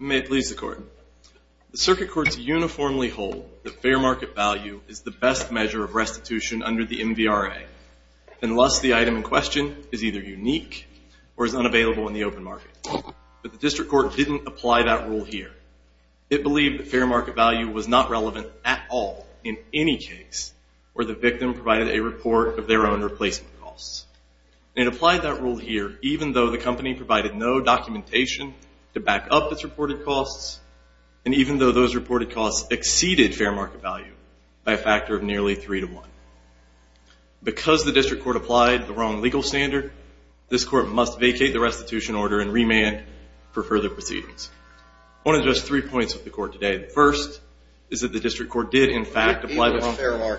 May it please the Court. The Circuit Courts uniformly hold that fair market value is the best measure of restitution under the MVRA, unless the item in question is either unique or is unavailable in the open market. But the District Court didn't apply that rule here. It believed that fair market value was not relevant at all in any case where the victim provided a report of their own replacement costs. It applied that rule here even though the company provided no documentation to back up its reported costs, and even though those reported costs exceeded fair market value by a factor of nearly 3 to 1. Because the District Court applied the wrong legal standard, this Court must vacate the restitution order and remand for further proceedings. I want to address three points with the Court today. The first is that the District Court did, in fact, apply the wrong...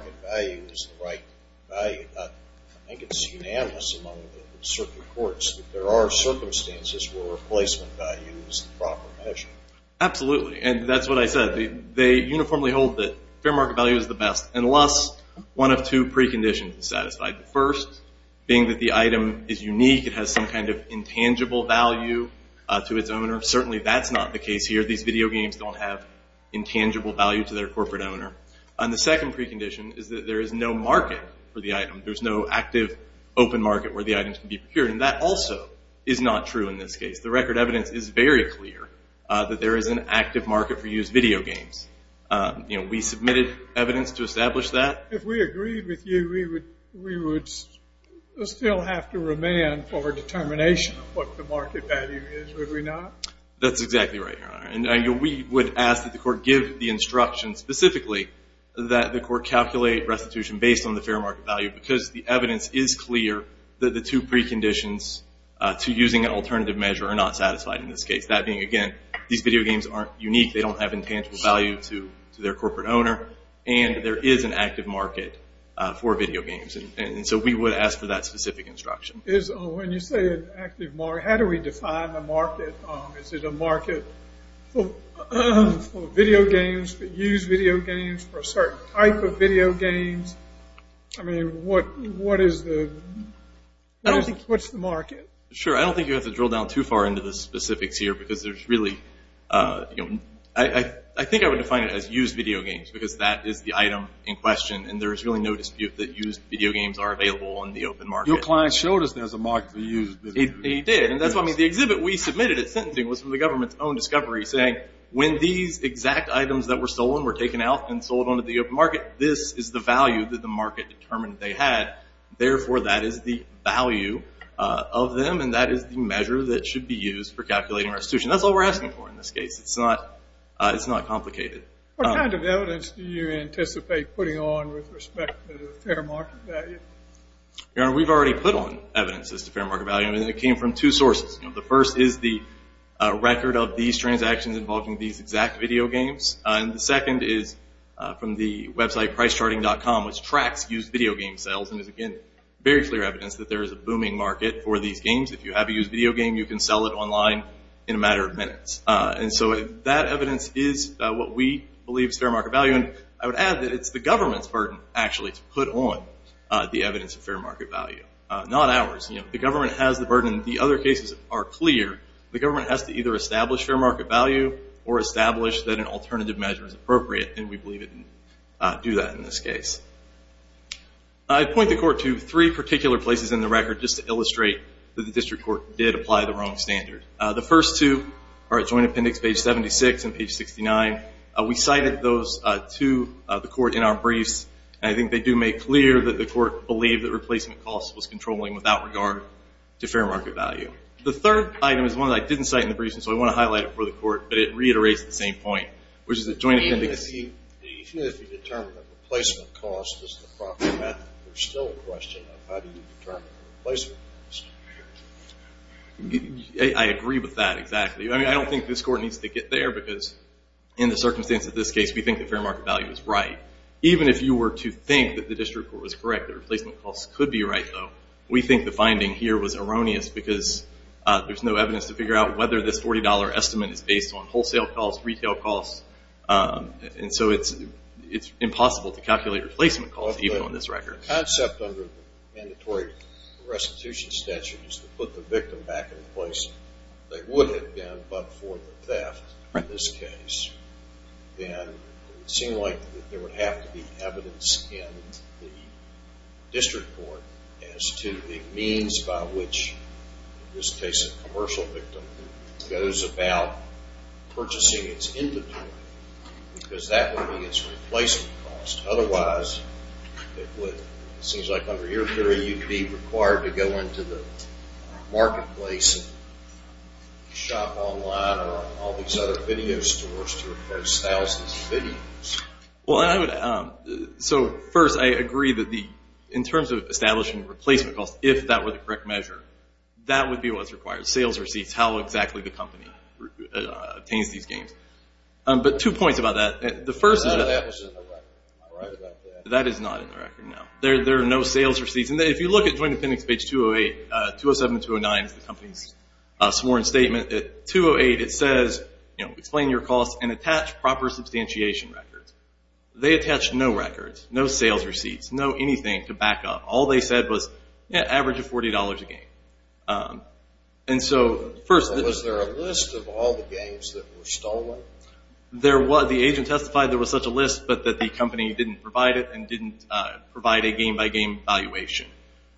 I think it's unanimous among the Circuit Courts that there are circumstances where replacement value is the proper measure. Absolutely, and that's what I said. They uniformly hold that fair market value is the best, unless one of two preconditions is satisfied. The first being that the item is unique. It has some kind of intangible value to its owner. Certainly that's not the case here. These video games don't have intangible value to their corporate owner. And the second precondition is that there is no market for the item. There's no active open market where the item can be procured, and that also is not true in this case. The record evidence is very clear that there is an active market for used video games. We submitted evidence to establish that. If we agreed with you, we would still have to remand for determination of what the market value is, would we not? That's exactly right, Your Honor. And we would ask that the Court give the instruction specifically that the Court calculate restitution based on the fair market value because the evidence is clear that the two preconditions to using an alternative measure are not satisfied in this case. That being, again, these video games aren't unique. They don't have intangible value to their corporate owner, and there is an active market for video games. And so we would ask for that specific instruction. When you say an active market, how do we define the market? Is it a market for video games, for used video games, for a certain type of video games? I mean, what is the market? Sure. I don't think you have to drill down too far into the specifics here because there's really – I think I would define it as used video games because that is the item in question, and there is really no dispute that used video games are available in the open market. Your client showed us there's a market for used video games. He did. And that's why, I mean, the exhibit we submitted at sentencing was from the government's own discovery, saying when these exact items that were stolen were taken out and sold onto the open market, this is the value that the market determined they had. Therefore, that is the value of them, and that is the measure that should be used for calculating restitution. That's all we're asking for in this case. It's not complicated. What kind of evidence do you anticipate putting on with respect to the fair market value? Your Honor, we've already put on evidence as to fair market value, and it came from two sources. The first is the record of these transactions involving these exact video games, and the second is from the website pricecharting.com, which tracks used video game sales and is, again, very clear evidence that there is a booming market for these games. If you have a used video game, you can sell it online in a matter of minutes. And so that evidence is what we believe is fair market value, and I would add that it's the government's burden, actually, to put on the evidence of fair market value, not ours. The government has the burden. The other cases are clear. The government has to either establish fair market value or establish that an alternative measure is appropriate, and we believe it can do that in this case. I point the Court to three particular places in the record just to illustrate that the District Court did apply the wrong standard. The first two are at Joint Appendix page 76 and page 69. We cited those to the Court in our briefs, and I think they do make clear that the Court believed that replacement cost was controlling without regard to fair market value. The third item is one that I didn't cite in the briefs, and so I want to highlight it for the Court, but it reiterates the same point, which is that Joint Appendix... Even if you determine that replacement cost is the proper method, there's still a question of how do you determine the replacement cost? I agree with that, exactly. I don't think this Court needs to get there because in the circumstance of this case, we think the fair market value is right. Even if you were to think that the District Court was correct, that replacement cost could be right, though, we think the finding here was erroneous because there's no evidence to figure out whether this $40 estimate is based on wholesale costs, retail costs, and so it's impossible to calculate replacement costs even on this record. If the concept under the mandatory restitution statute is to put the victim back in a place they would have been but for the theft in this case, then it would seem like there would have to be evidence in the District Court as to the means by which, in this case, a commercial victim goes about purchasing its inventory because that would be its replacement cost. Otherwise, it would seem like under your theory you'd be required to go into the marketplace and shop online or all these other video stores to replace thousands of videos. First, I agree that in terms of establishing replacement costs, if that were the correct measure, that would be what's required. Sales receipts, how exactly the company obtains these gains. Two points about that. I thought that was in the record. That is not in the record, no. There are no sales receipts. If you look at Joint Dependents page 207-209, the company's sworn statement, at 208 it says, explain your costs and attach proper substantiation records. They attached no records, no sales receipts, no anything to back up. All they said was average of $40 a game. Was there a list of all the games that were stolen? The agent testified there was such a list but that the company didn't provide it and didn't provide a game-by-game valuation,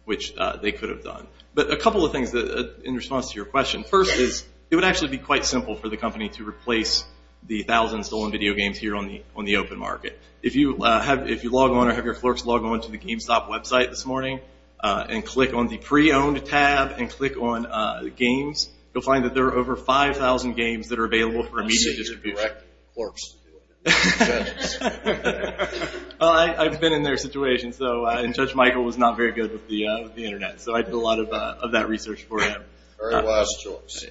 which they could have done. But a couple of things in response to your question. First is it would actually be quite simple for the company to replace the thousands of stolen video games here on the open market. If you log on or have your clerks log on to the GameStop website this morning and click on the pre-owned tab and click on games, you'll find that there are over 5,000 games that are available for immediate distribution. I've seen you direct clerks to do it. I've been in their situation, and Judge Michael was not very good with the Internet, so I did a lot of that research for him. Very last choice.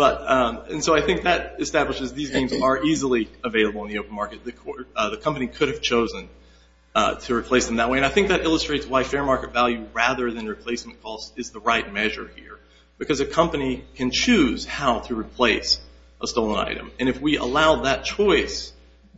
I think that establishes these games are easily available in the open market. The company could have chosen to replace them that way. I think that illustrates why fair market value rather than replacement cost is the right measure here because a company can choose how to replace a stolen item. If we allow that choice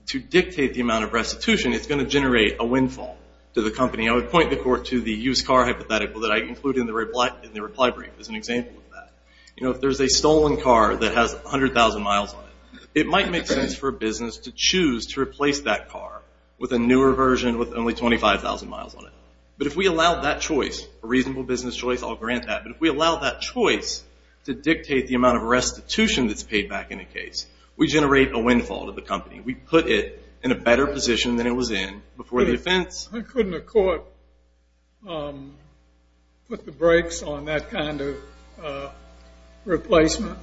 to dictate the amount of restitution, it's going to generate a windfall to the company. I would point the court to the used car hypothetical that I included in the reply brief as an example of that. If there's a stolen car that has 100,000 miles on it, it might make sense for a business to choose to replace that car with a newer version with only 25,000 miles on it. But if we allow that choice, a reasonable business choice, I'll grant that, but if we allow that choice to dictate the amount of restitution that's paid back in a case, we generate a windfall to the company. We put it in a better position than it was in before the offense. Couldn't the court put the brakes on that kind of replacement?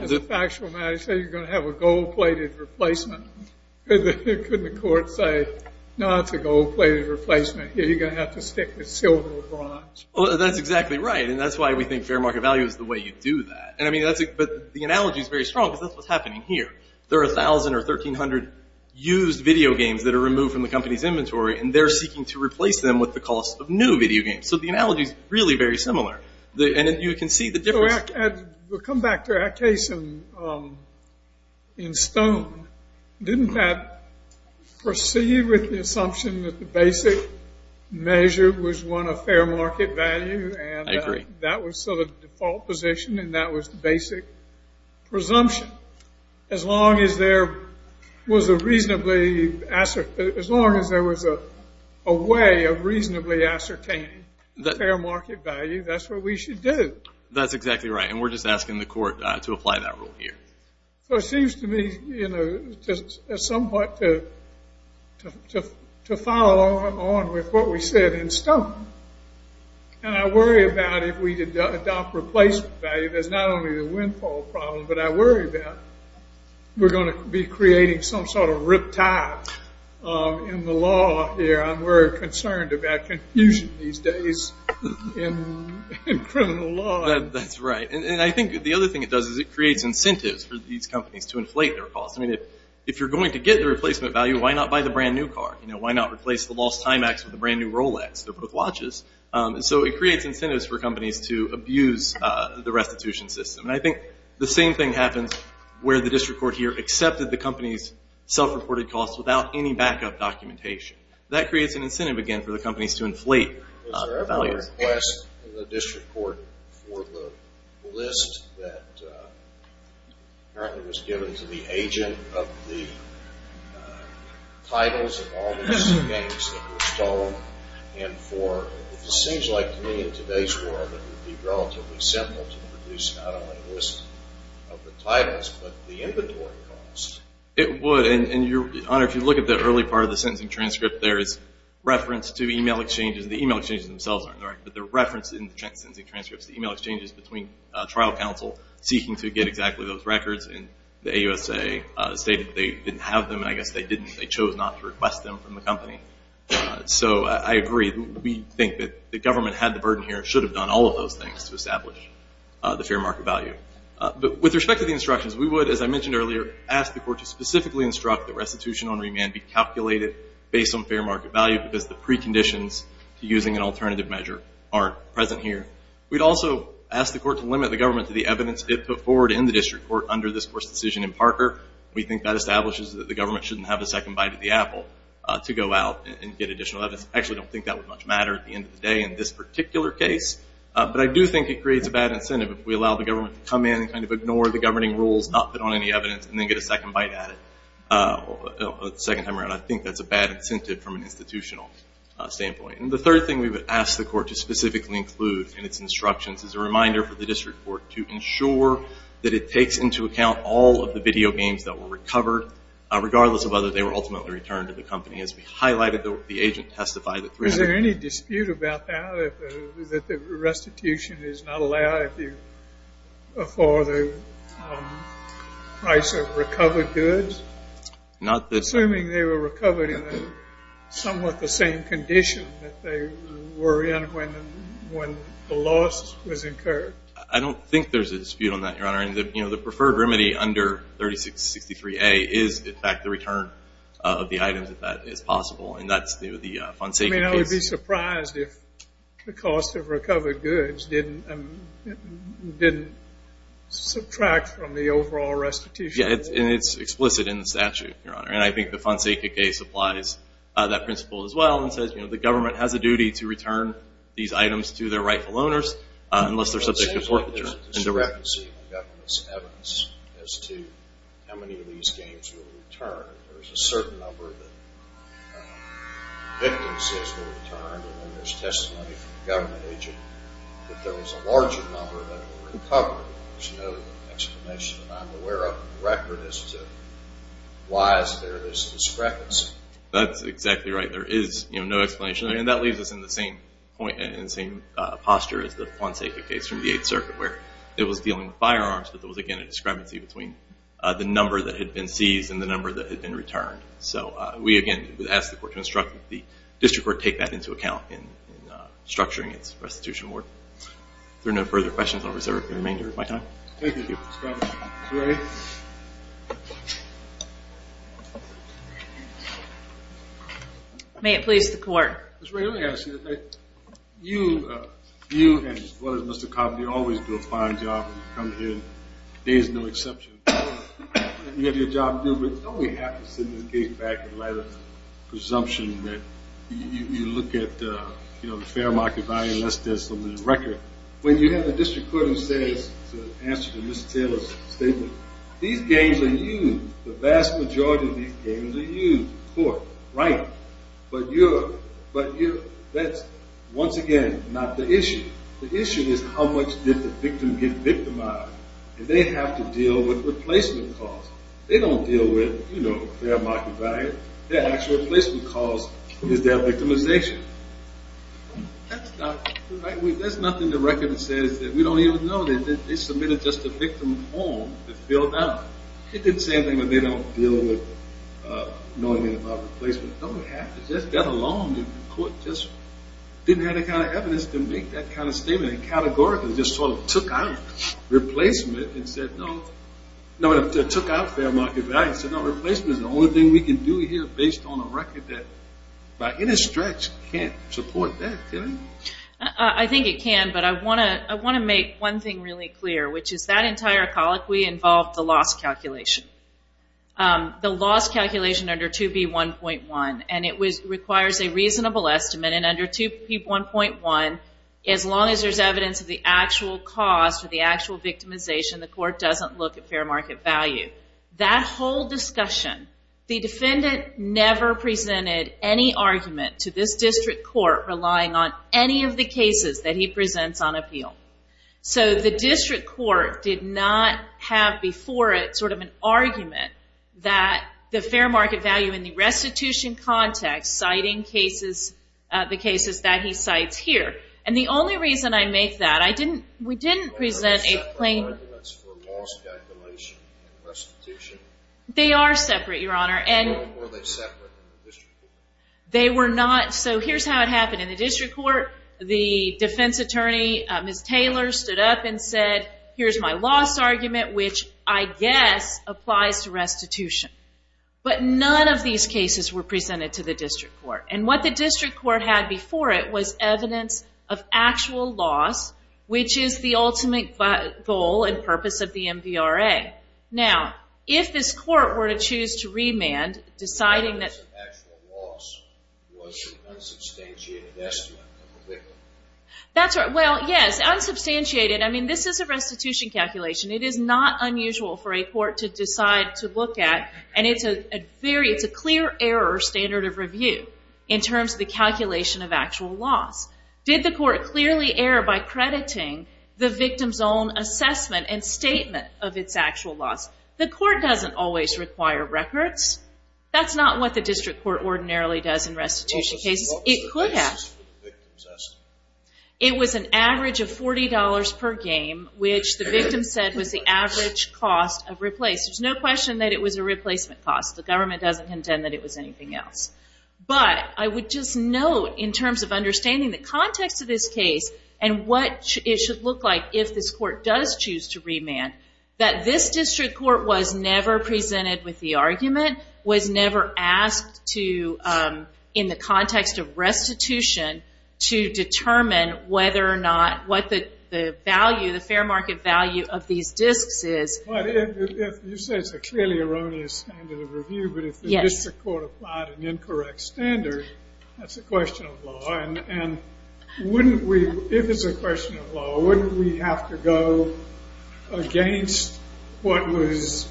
As a factual matter, you're going to have a gold-plated replacement. Couldn't the court say, no, it's a gold-plated replacement. You're going to have to stick with silver or bronze? That's exactly right, and that's why we think fair market value is the way you do that. But the analogy is very strong because that's what's happening here. There are 1,000 or 1,300 used video games that are removed from the company's inventory, and they're seeking to replace them with the cost of new video games. So the analogy is really very similar, and you can see the difference. We'll come back to our case in Stone. Didn't that proceed with the assumption that the basic measure was one of fair market value? I agree. That was sort of the default position, and that was the basic presumption. As long as there was a reasonably – as long as there was a way of reasonably ascertaining fair market value, that's what we should do. That's exactly right, and we're just asking the court to apply that rule here. So it seems to me, you know, somewhat to follow along with what we said in Stone. And I worry about if we adopt replacement value, there's not only the windfall problem, but I worry that we're going to be creating some sort of riptide in the law here, and we're concerned about confusion these days in criminal law. That's right, and I think the other thing it does is it creates incentives for these companies to inflate their costs. I mean, if you're going to get the replacement value, why not buy the brand-new car? You know, why not replace the lost Timex with a brand-new Rolex? They're both watches. And so it creates incentives for companies to abuse the restitution system. And I think the same thing happens where the district court here accepted the company's self-reported costs without any backup documentation. That creates an incentive, again, for the companies to inflate their values. I would request the district court for the list that apparently was given to the agent of the titles of all the missing games that were stolen. And for, it seems like to me in today's world, it would be relatively simple to produce not only a list of the titles, but the inventory costs. It would, and, Your Honor, if you look at the early part of the sentencing transcript there, there is reference to e-mail exchanges. The e-mail exchanges themselves aren't in the record, but they're referenced in the sentencing transcripts. The e-mail exchanges between trial counsel seeking to get exactly those records and the AUSA stated that they didn't have them, and I guess they chose not to request them from the company. So I agree. We think that the government had the burden here and should have done all of those things to establish the fair market value. But with respect to the instructions, we would, as I mentioned earlier, ask the court to specifically instruct that restitution on remand be calculated based on fair market value because the preconditions to using an alternative measure aren't present here. We'd also ask the court to limit the government to the evidence it put forward in the district court under this court's decision in Parker. We think that establishes that the government shouldn't have a second bite of the apple to go out and get additional evidence. I actually don't think that would much matter at the end of the day in this particular case. But I do think it creates a bad incentive if we allow the government to come in and kind of ignore the governing rules, not put on any evidence, and then get a second bite at it a second time around. I think that's a bad incentive from an institutional standpoint. And the third thing we would ask the court to specifically include in its instructions is a reminder for the district court to ensure that it takes into account all of the video games that were recovered, regardless of whether they were ultimately returned to the company, as we highlighted. The agent testified that 300- assuming they were recovered in somewhat the same condition that they were in when the loss was incurred. I don't think there's a dispute on that, Your Honor. The preferred remedy under 3663A is, in fact, the return of the items if that is possible. And that's the Fonseca case. I would be surprised if the cost of recovered goods didn't subtract from the overall restitution. Yeah, and it's explicit in the statute, Your Honor. And I think the Fonseca case applies that principle as well and says, you know, the government has a duty to return these items to their rightful owners unless they're subject to forfeiture. It seems like there's discrepancy in the government's evidence as to how many of these games were returned. There's a certain number that the victim says they were returned, and then there's testimony from the government agent that there was a larger number that were recovered. There's no explanation, and I'm aware of the record as to why is there this discrepancy. That's exactly right. There is, you know, no explanation. And that leaves us in the same point and in the same posture as the Fonseca case from the Eighth Circuit, where it was dealing with firearms, but there was, again, a discrepancy between the number that had been seized and the number that had been returned. So we, again, would ask the court to instruct that the district court take that into account in structuring its restitution award. If there are no further questions, I'll reserve the remainder of my time. Thank you, Mr. Cobb. Ms. Ray? May it please the court. Ms. Ray, let me ask you. You and Mr. Cobb, you always do a fine job when you come here. There is no exception. You have your job to do, but don't we have to send this case back in light of the presumption that you look at, you know, the fair market value, unless there's something in the record. When you have a district court who says, to answer to Ms. Taylor's statement, these games are used. The vast majority of these games are used in court. Right. But that's, once again, not the issue. The issue is how much did the victim get victimized, and they have to deal with replacement costs. They don't deal with, you know, fair market value. Their actual replacement cost is their victimization. That's not, there's nothing in the record that says that we don't even know that they submitted just a victim home to fill it out. It didn't say anything that they don't deal with knowing about replacement. Don't have to, just get along. The court just didn't have the kind of evidence to make that kind of statement and categorically just sort of took out replacement and said, no, took out fair market value. Replacement is the only thing we can do here based on a record that, by any stretch, can't support that, can it? I think it can, but I want to make one thing really clear, which is that entire colloquy involved the loss calculation. The loss calculation under 2B1.1, and it requires a reasonable estimate. And under 2B1.1, as long as there's evidence of the actual cost or the actual victimization, the court doesn't look at fair market value. That whole discussion, the defendant never presented any argument to this district court relying on any of the cases that he presents on appeal. So the district court did not have before it sort of an argument that the fair market value in the restitution context citing cases, the cases that he cites here. And the only reason I make that, I didn't, we didn't present a plain... They are separate, Your Honor. They were not, so here's how it happened. In the district court, the defense attorney, Ms. Taylor, stood up and said, here's my loss argument, which I guess applies to restitution. But none of these cases were presented to the district court. And what the district court had before it was evidence of actual loss, which is the ultimate goal and purpose of the MVRA. Now, if this court were to choose to remand, deciding that... The evidence of actual loss was an unsubstantiated estimate of the victim. That's right, well, yes, unsubstantiated. I mean, this is a restitution calculation. It is not unusual for a court to decide to look at, and it's a very, it's a clear error standard of review in terms of the calculation of actual loss. Did the court clearly err by crediting the victim's own assessment and statement of its actual loss? The court doesn't always require records. That's not what the district court ordinarily does in restitution cases. It could have. It was an average of $40 per game, which the victim said was the average cost of replace. There's no question that it was a replacement cost. The government doesn't contend that it was anything else. But I would just note, in terms of understanding the context of this case and what it should look like if this court does choose to remand, that this district court was never presented with the argument, was never asked to, in the context of restitution, to determine whether or not, what the value, the fair market value of these disks is. You say it's a clearly erroneous standard of review, but if the district court applied an incorrect standard, that's a question of law. And wouldn't we, if it's a question of law, wouldn't we have to go against what was,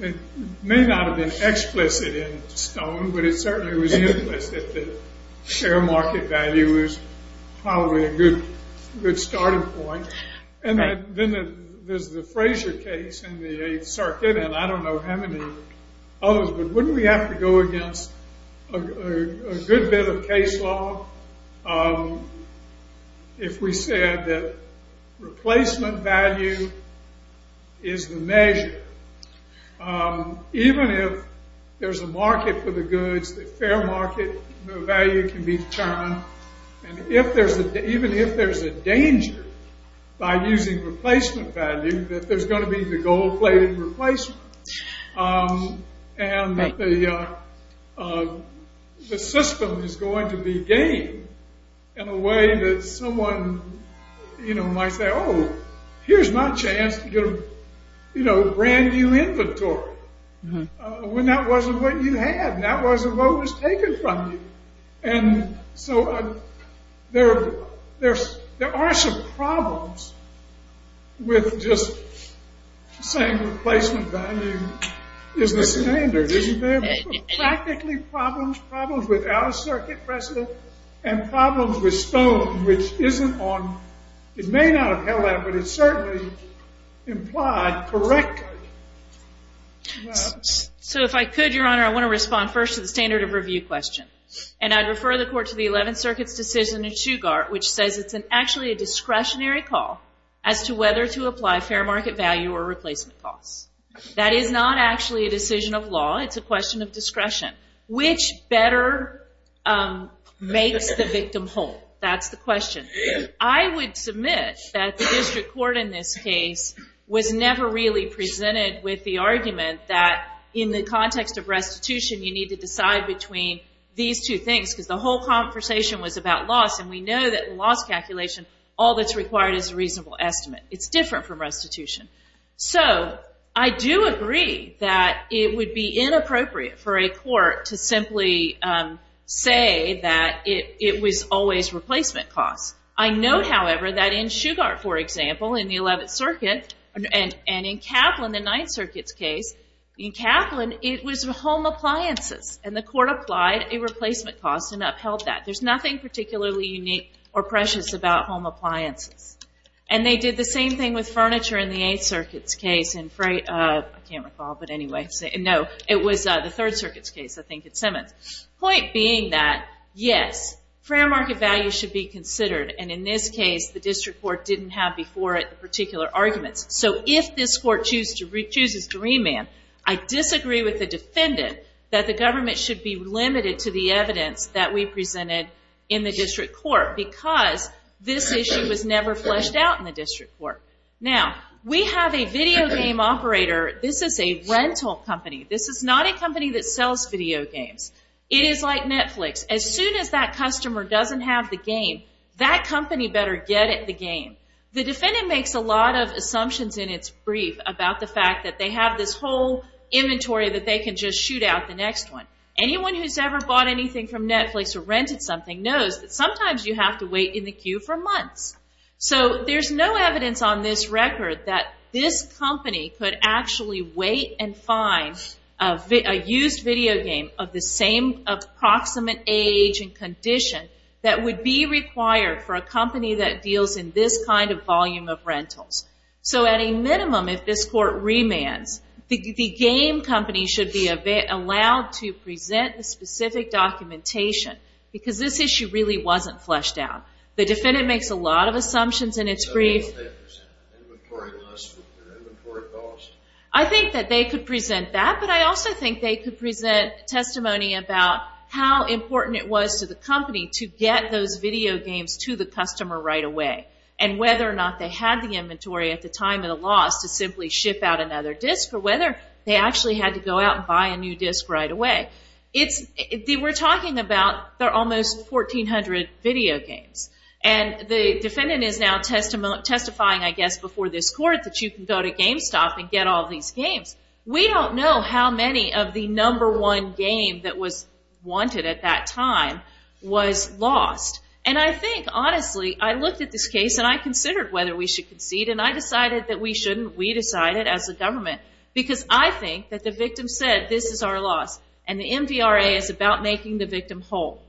it may not have been explicit in Stone, but it certainly was implicit that the fair market value was probably a good starting point. And then there's the Frazier case in the Eighth Circuit, and I don't know how many others, but wouldn't we have to go against a good bit of case law if we said that replacement value is the measure? Even if there's a market for the goods, the fair market value can be determined, and even if there's a danger by using replacement value, that there's going to be the gold-plated replacement, and that the system is going to be game in a way that someone might say, oh, here's my chance to get a brand new inventory, when that wasn't what you had, and that wasn't what was taken from you. And so there are some problems with just saying replacement value is the standard. Isn't there practically problems, problems with out-of-circuit precedent, and problems with Stone, which isn't on, it may not have held out, but it certainly implied correctly. So if I could, Your Honor, I want to respond first to the standard of review question, and I'd refer the court to the Eleventh Circuit's decision in Shugart, which says it's actually a discretionary call as to whether to apply fair market value or replacement costs. That is not actually a decision of law, it's a question of discretion. Which better makes the victim whole? That's the question. I would submit that the district court in this case was never really presented with the argument that in the context of restitution, you need to decide between these two things, because the whole conversation was about loss, and we know that in loss calculation, all that's required is a reasonable estimate. It's different from restitution. So I do agree that it would be inappropriate for a court to simply say that it was always replacement costs. I note, however, that in Shugart, for example, in the Eleventh Circuit, and in Kaplan, the Ninth Circuit's case, in Kaplan, it was home appliances, and the court applied a replacement cost and upheld that. There's nothing particularly unique or precious about home appliances. And they did the same thing with furniture in the Eighth Circuit's case. I can't recall, but anyway. No, it was the Third Circuit's case, I think at Simmons. Point being that, yes, fair market value should be considered, and in this case, the district court didn't have before it particular arguments. So if this court chooses to remand, I disagree with the defendant that the government should be limited to the evidence that we presented in the district court, because this issue was never fleshed out in the district court. Now, we have a video game operator. This is a rental company. This is not a company that sells video games. It is like Netflix. As soon as that customer doesn't have the game, that company better get it the game. The defendant makes a lot of assumptions in its brief about the fact that they have this whole inventory that they can just shoot out the next one. Anyone who's ever bought anything from Netflix or rented something knows that sometimes you have to wait in the queue for months. So there's no evidence on this record that this company could actually wait and find a used video game of the same approximate age and condition that would be required for a company that deals in this kind of volume of rentals. So at a minimum, if this court remands, the game company should be allowed to present the specific documentation, because this issue really wasn't fleshed out. The defendant makes a lot of assumptions in its brief. I think that they could present that, but I also think they could present testimony about how important it was to the company to get those video games to the customer right away, and whether or not they had the inventory at the time of the loss to simply ship out another disc, or whether they actually had to go out and buy a new disc right away. We're talking about almost 1,400 video games, and the defendant is now testifying, I guess, before this court that you can go to GameStop and get all these games. We don't know how many of the number one game that was wanted at that time was lost. And I think, honestly, I looked at this case and I considered whether we should concede, and I decided that we shouldn't. We decided as a government, because I think that the victim said, this is our loss, and the MVRA is about making the victim whole.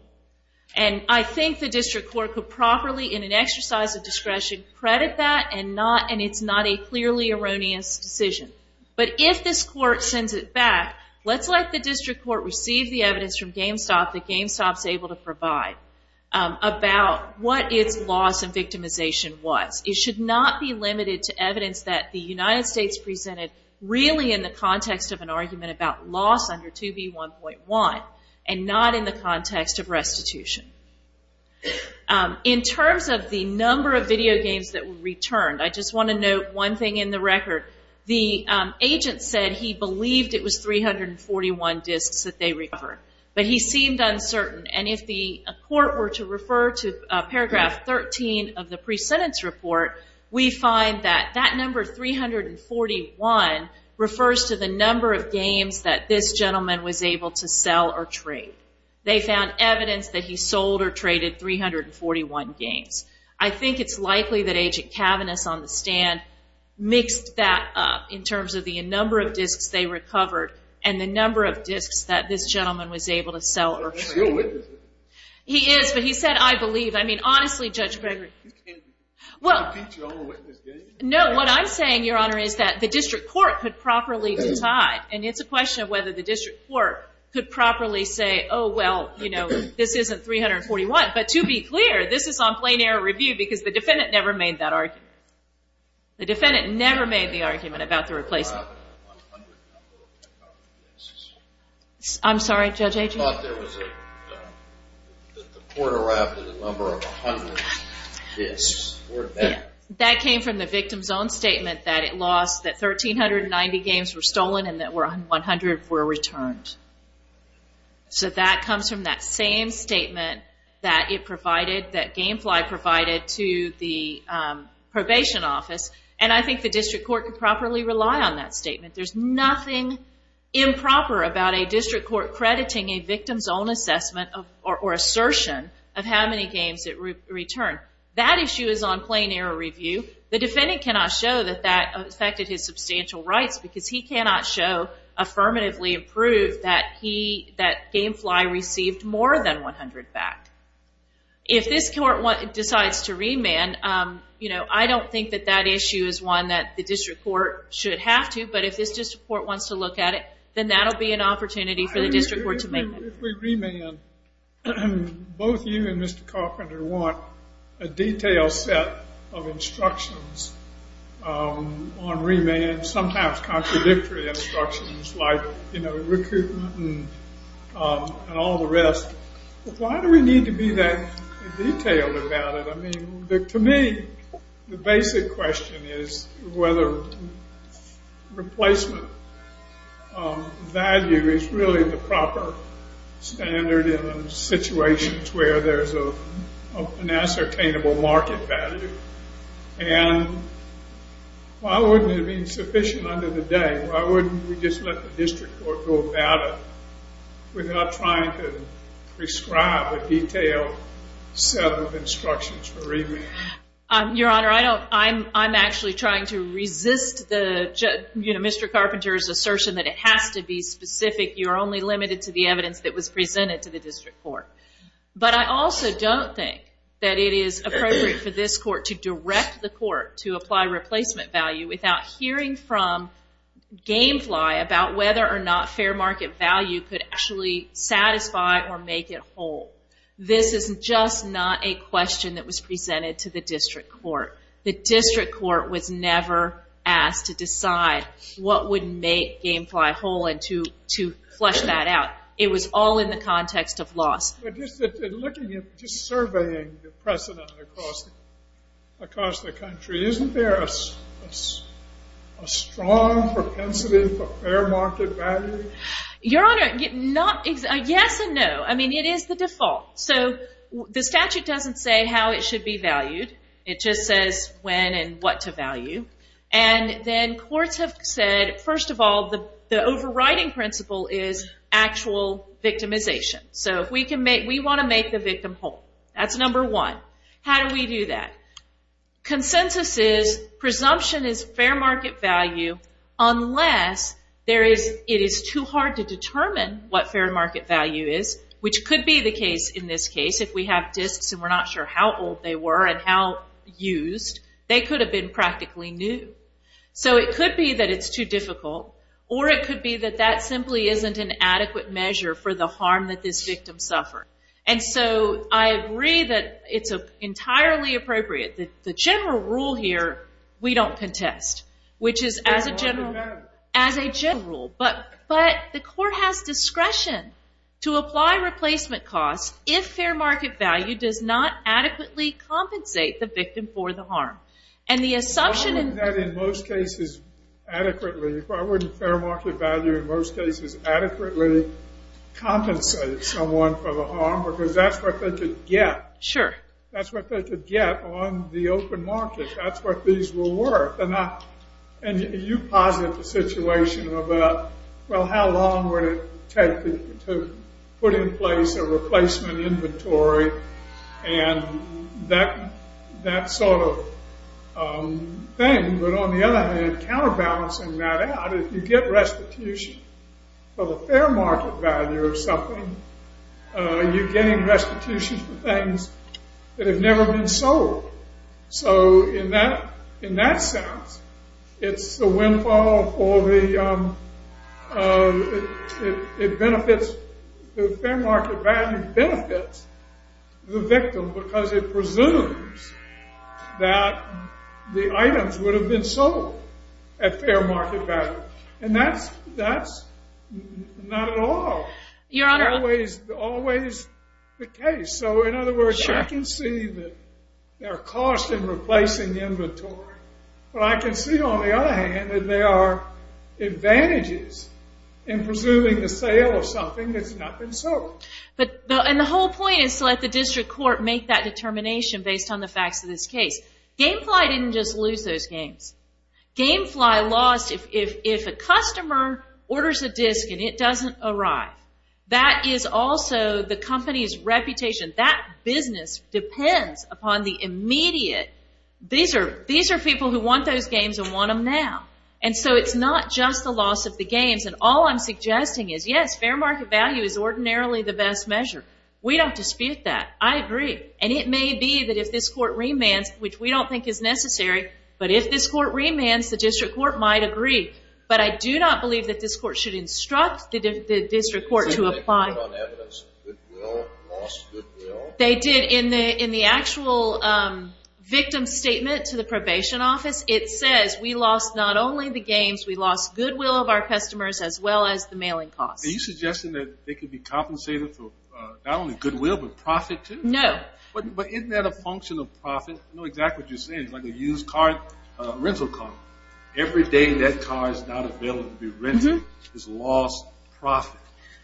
And I think the district court could properly, in an exercise of discretion, credit that, and it's not a clearly erroneous decision. But if this court sends it back, let's let the district court receive the evidence from GameStop that GameStop's able to provide about what its loss and victimization was. It should not be limited to evidence that the United States presented really in the context of an argument about loss under 2B1.1, and not in the context of restitution. In terms of the number of video games that were returned, I just want to note one thing in the record. The agent said he believed it was 341 discs that they recovered. But he seemed uncertain, and if the court were to refer to paragraph 13 of the pre-sentence report, we find that that number, 341, refers to the number of games that this gentleman was able to sell or trade. They found evidence that he sold or traded 341 games. I think it's likely that Agent Cavaniss on the stand mixed that up in terms of the number of discs they recovered and the number of discs that this gentleman was able to sell or trade. He is, but he said, I believe. I mean, honestly, Judge Gregory... Well... No, what I'm saying, Your Honor, is that the district court could properly decide, and it's a question of whether the district court could properly say, oh, well, you know, this isn't 341. But to be clear, this is on plain error review because the defendant never made that argument. The defendant never made the argument about the replacement. I'm sorry, Judge Adrian. I thought there was a... that the court erupted in the number of 100 discs. That came from the victim's own statement that it lost, that 1,390 games were stolen and that 100 were returned. So that comes from that same statement that it provided, that Gamefly provided to the probation office, and I think the district court could properly rely on that statement. There's nothing improper about a district court crediting a victim's own assessment or assertion of how many games it returned. That issue is on plain error review. The defendant cannot show that that affected his substantial rights because he cannot show affirmatively approved that he... that Gamefly received more than 100 back. If this court decides to remand, I don't think that that issue is one that the district court should have to, but if this district court wants to look at it, then that'll be an opportunity for the district court to make that... If we remand, both you and Mr. Carpenter want a detailed set of instructions on remand, sometimes contradictory instructions like recruitment and all the rest. Why do we need to be that detailed about it? I mean, to me, the basic question is whether replacement value is really the proper standard in situations where there's an ascertainable market value, and why wouldn't it be sufficient under the day? Why wouldn't we just let the district court go about it without trying to prescribe a detailed set of instructions for remand? Your Honor, I'm actually trying to resist Mr. Carpenter's assertion that it has to be specific. You're only limited to the evidence that was presented to the district court. But I also don't think that it is appropriate for this court to direct the court to apply replacement value without hearing from Gamefly about whether or not fair market value could actually satisfy or make it whole. This is just not a question that was presented to the district court. The district court was never asked to decide what would make Gamefly whole and to flesh that out. It was all in the context of loss. Just surveying the precedent across the country, isn't there a strong propensity for fair market value? Your Honor, yes and no. I mean, it is the default. So the statute doesn't say how it should be valued. It just says when and what to value. And then courts have said, first of all, the overriding principle is actual victimization. So we want to make the victim whole. That's number one. How do we do that? Consensus is, presumption is fair market value unless it is too hard to determine what fair market value is, which could be the case in this case. If we have disks and we're not sure how old they were and how used, they could have been practically new. So it could be that it's too difficult or it could be that that simply isn't an adequate measure for the harm that this victim suffered. And so I agree that it's entirely appropriate. The general rule here, we don't contest, which is as a general rule. But the court has discretion to apply replacement costs if fair market value does not adequately compensate the victim for the harm. And the assumption... Why wouldn't that in most cases adequately, why wouldn't fair market value in most cases adequately compensate someone for the harm? Because that's what they could get. Sure. That's what they could get on the open market. That's what these were worth. And you posit the situation of, well, how long would it take to put in place a replacement inventory and that sort of thing. But on the other hand, counterbalancing that out, if you get restitution for the fair market value of something, you're getting restitution for things that have never been sold. So in that sense, it's the windfall for the... It benefits... The fair market value benefits the victim because it presumes that the items would have been sold at fair market value. And that's not at all always the case. So in other words, I can see that there are costs in replacing the inventory. But I can see, on the other hand, that there are advantages in presuming the sale of something that's not been sold. And the whole point is to let the district court make that determination based on the facts of this case. GameFly didn't just lose those games. GameFly lost... If a customer orders a disc and it doesn't arrive, that is also the company's reputation. That business depends upon the immediate... These are people who want those games and want them now. And so it's not just the loss of the games. And all I'm suggesting is, yes, fair market value is ordinarily the best measure. We don't dispute that. I agree. And it may be that if this court remands, which we don't think is necessary, but if this court remands, the district court might agree. But I do not believe that this court should instruct the district court to apply... They did in the actual victim's statement to the probation office. It says, we lost not only the games, we lost goodwill of our customers as well as the mailing costs. Are you suggesting that they could be compensated for not only goodwill but profit too? No. But isn't that a function of profit? I know exactly what you're saying. It's like a used car, a rental car. Every day that car is not available to be rented is lost profit.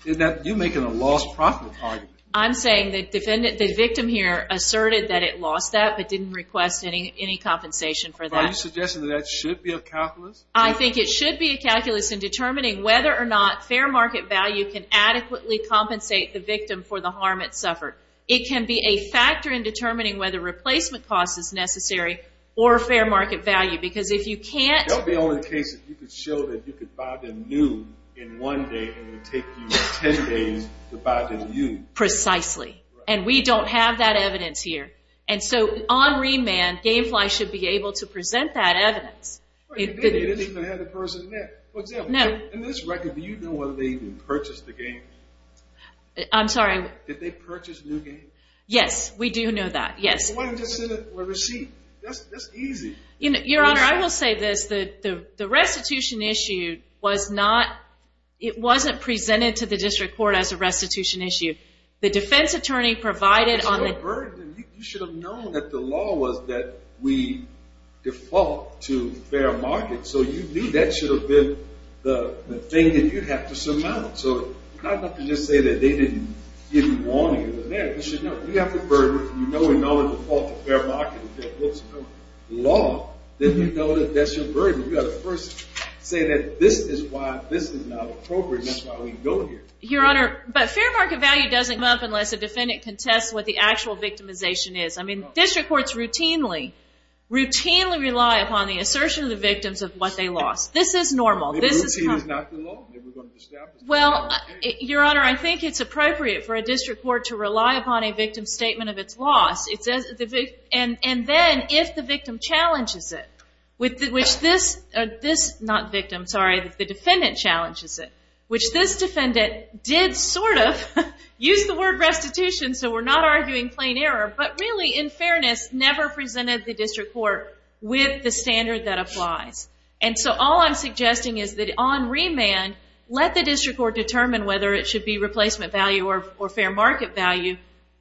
You're making a lost profit argument. I'm saying the victim here asserted that it lost that but didn't request any compensation for that. Are you suggesting that that should be a calculus? I think it should be a calculus in determining whether or not fair market value can adequately compensate the victim for the harm it suffered. It can be a factor in determining whether replacement cost is necessary or fair market value. Because if you can't... That would be only the case if you could show that you could buy them new in one day and it would take you 10 days to buy them new. Precisely. And we don't have that evidence here. And so on remand, Gamefly should be able to present that evidence. You didn't even have the person met. For example, in this record, do you know whether they even purchased the game? I'm sorry? Did they purchase a new game? Yes, we do know that, yes. Why didn't you just send a receipt? That's easy. Your Honor, I will say this. The restitution issue was not... It wasn't presented to the district court as a restitution issue. The defense attorney provided on the... There's no burden. You should have known that the law was that we default to fair market. So you knew that should have been the thing that you have to surmount. So it's not enough to just say that they didn't give you warning. You should know. You have the burden. You know we know we default to fair market. It's the law. Then you know that that's your burden. You got to first say that this is why this is not appropriate. That's why we go here. Your Honor, but fair market value doesn't come up unless a defendant contests what the actual victimization is. I mean, district courts routinely, routinely rely upon the assertion of the victims of what they lost. This is normal. This is common. Maybe routine is not the law. Maybe we're going to establish it. Well, Your Honor, I think it's appropriate for a district court to rely upon a victim's statement of its loss. And then if the victim challenges it, which this... Not victim, sorry. The defendant challenges it, which this defendant did sort of use the word restitution so we're not arguing plain error, but really, in fairness, never presented the district court with the standard that applies. And so all I'm suggesting is that on remand, let the district court determine whether it should be replacement value or fair market value.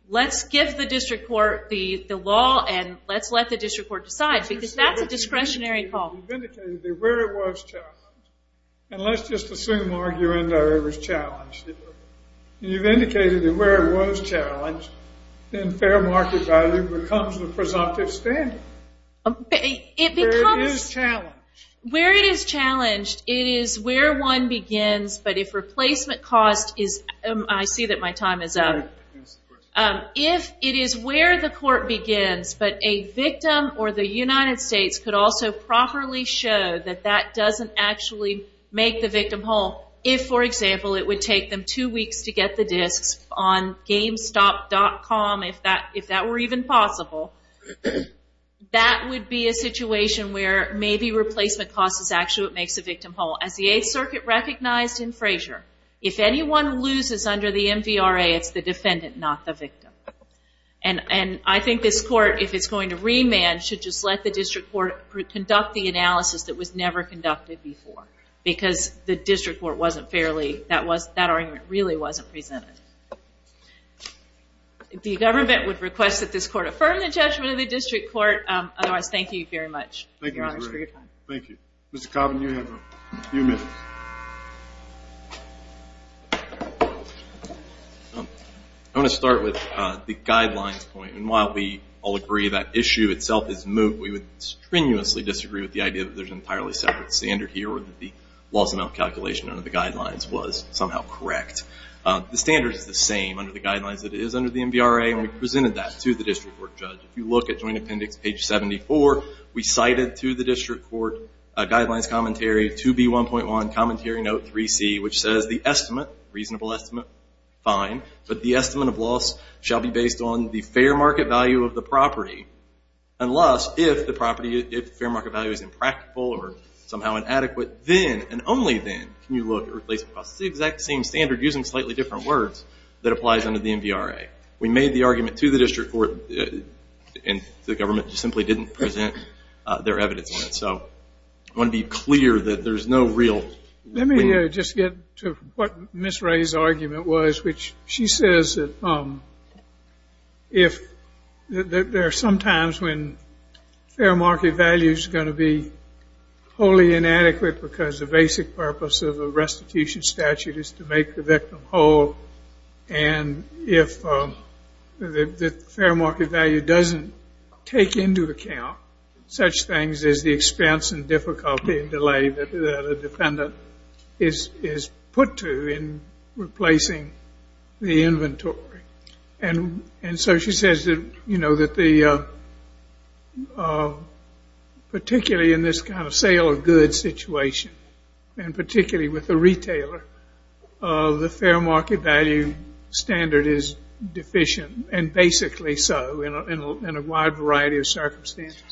Let's give the district court the law and let's let the district court decide because that's a discretionary call. You've indicated that where it was challenged, and let's just assume, Mark, you're in there, it was challenged. You've indicated that where it was challenged, then fair market value becomes the presumptive standard. It becomes... Where it is challenged. Where it is challenged, it is where one begins, but if replacement cost is... I see that my time is up. If it is where the court begins, but a victim or the United States could also properly show that that doesn't actually make the victim whole, if, for example, it would take them two weeks to get the disks on GameStop.com, if that were even possible, that would be a situation where maybe replacement cost is actually what makes the victim whole. As the Eighth Circuit recognized in Frazier, if anyone loses under the MVRA, it's the defendant, not the victim. And I think this court, if it's going to remand, should just let the district court conduct the analysis that was never conducted before because the district court wasn't fairly... That argument really wasn't presented. The government would request that this court affirm the judgment of the district court. Otherwise, thank you very much, Your Honor, for your time. Thank you. Mr. Coburn, you have a few minutes. I want to start with the guidelines point. And while we all agree that issue itself is moot, we would strenuously disagree with the idea that there's an entirely separate standard here or that the loss amount calculation under the guidelines was somehow correct. The standard is the same under the guidelines that it is under the MVRA, and we presented that to the district court judge. If you look at Joint Appendix page 74, we cited to the district court guidelines commentary 2B1.1 Commentary Note 3C, which says the estimate, reasonable estimate, fine, but the estimate of loss shall be based on the fair market value of the property. Unless, if the property, if the fair market value is impractical or somehow inadequate, then and only then can you look at replacing the exact same standard using slightly different words that applies under the MVRA. We made the argument to the district court and the government simply didn't present their evidence on it. So I want to be clear that there's no real... Let me just get to what Ms. Ray's argument was, which she says that there are some times when fair market value is going to be wholly inadequate because the basic purpose of a restitution statute is to make the victim whole, and if the fair market value doesn't take into account such things as the expense and difficulty and delay that a defendant is put to in replacing the inventory. And so she says that, you know, that particularly in this kind of sale of goods situation and particularly with the retailer, the fair market value standard is deficient and basically so in a wide variety of circumstances.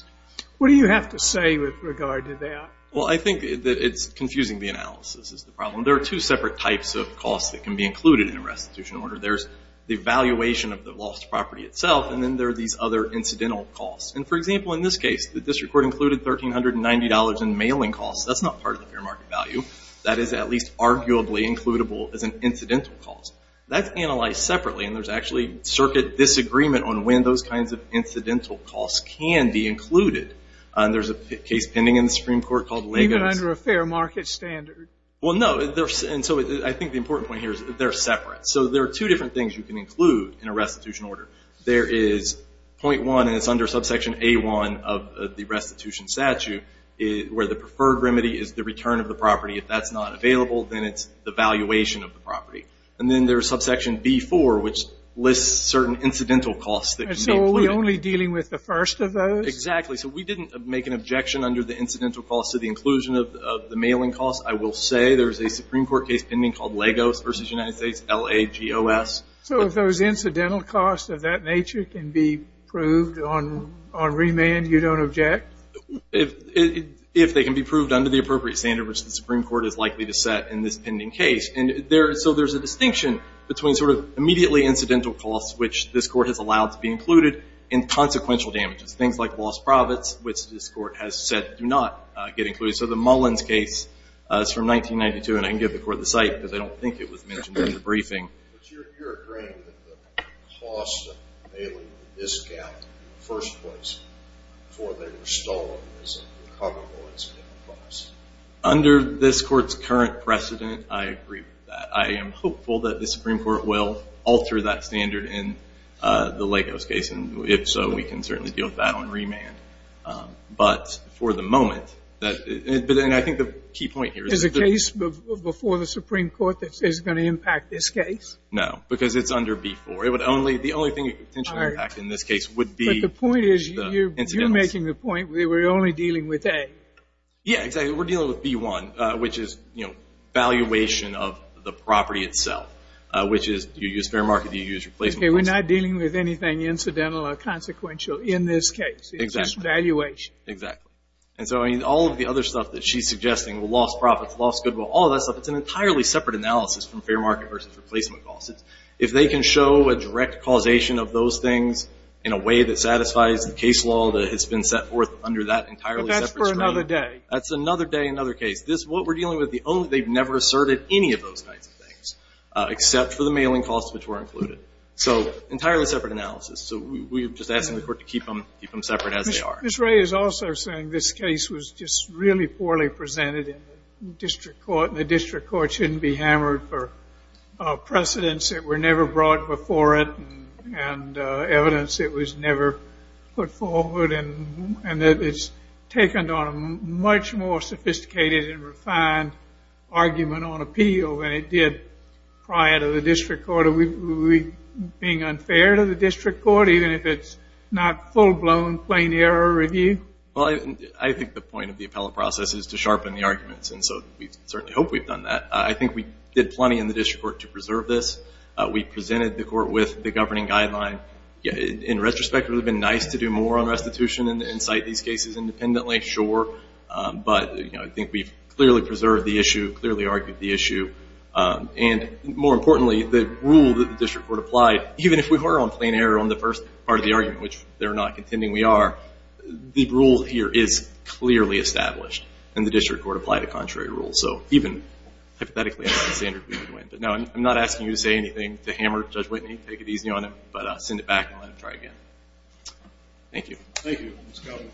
What do you have to say with regard to that? Well, I think that it's confusing the analysis is the problem. There are two separate types of costs that can be included in a restitution order. There's the valuation of the lost property itself, and then there are these other incidental costs. And, for example, in this case, the district court included $1,390 in mailing costs. That's not part of the fair market value. That is at least arguably includable as an incidental cost. That's analyzed separately, and there's actually circuit disagreement on when those kinds of incidental costs can be included. There's a case pending in the Supreme Court called... Even under a fair market standard. Well, no, and so I think the important point here is they're separate. So there are two different things you can include in a restitution order. There is point one, and it's under subsection A-1 of the restitution statute, where the preferred remedy is the return of the property. If that's not available, then it's the valuation of the property. And then there's subsection B-4, which lists certain incidental costs that can be included. And so are we only dealing with the first of those? Exactly. So we didn't make an objection under the incidental costs to the inclusion of the mailing costs. I will say there's a Supreme Court case pending called Lagos v. United States, L-A-G-O-S. So if those incidental costs of that nature can be proved on remand, you don't object? If they can be proved under the appropriate standard which the Supreme Court is likely to set in this pending case. And so there's a distinction between sort of immediately incidental costs, which this Court has allowed to be included, and consequential damages, things like lost profits, which this Court has said do not get included. So the Mullins case is from 1992, and I can give the Court the cite because I don't think it was mentioned in the briefing. But you're agreeing that the cost of mailing a discount in the first place before they were stolen is incongruent with incidental costs? Under this Court's current precedent, I agree with that. I am hopeful that the Supreme Court will alter that standard in the Lagos case, and if so, we can certainly deal with that on remand. But for the moment, and I think the key point here is the case before the Supreme Court that says it's going to impact this case? No, because it's under B-4. The only thing it could potentially impact in this case would be the incidentals. But the point is you're making the point that we're only dealing with A. Yeah, exactly. We're dealing with B-1, which is valuation of the property itself, which is you use fair market, you use replacement costs. Okay, we're not dealing with anything incidental or consequential in this case. It's just valuation. Exactly. And so all of the other stuff that she's suggesting, lost profits, lost goodwill, all of that stuff, it's an entirely separate analysis from fair market versus replacement costs. If they can show a direct causation of those things in a way that satisfies the case law that has been set forth under that entirely separate stream. But that's for another day. That's another day, another case. What we're dealing with, they've never asserted any of those kinds of things, except for the mailing costs, which were included. So entirely separate analysis. So we're just asking the court to keep them separate as they are. Ms. Ray is also saying this case was just really poorly presented in the district court, and the district court shouldn't be hammered for precedents that were never brought before it and evidence that was never put forward, and that it's taken on a much more sophisticated and refined argument on appeal than it did prior to the district court. So are we being unfair to the district court, even if it's not full-blown, plain error review? Well, I think the point of the appellate process is to sharpen the arguments, and so we certainly hope we've done that. I think we did plenty in the district court to preserve this. We presented the court with the governing guideline. In retrospect, it would have been nice to do more on restitution and cite these cases independently, sure. But I think we've clearly preserved the issue, clearly argued the issue. And more importantly, the rule that the district court applied, even if we were on plain error on the first part of the argument, which they're not contending we are, the rule here is clearly established, and the district court applied a contrary rule. So even hypothetically, I'm not saying we would win. But no, I'm not asking you to say anything to hammer Judge Whitney. Take it easy on him, but send it back and let him try again. Thank you. Thank you, Ms. Calvin.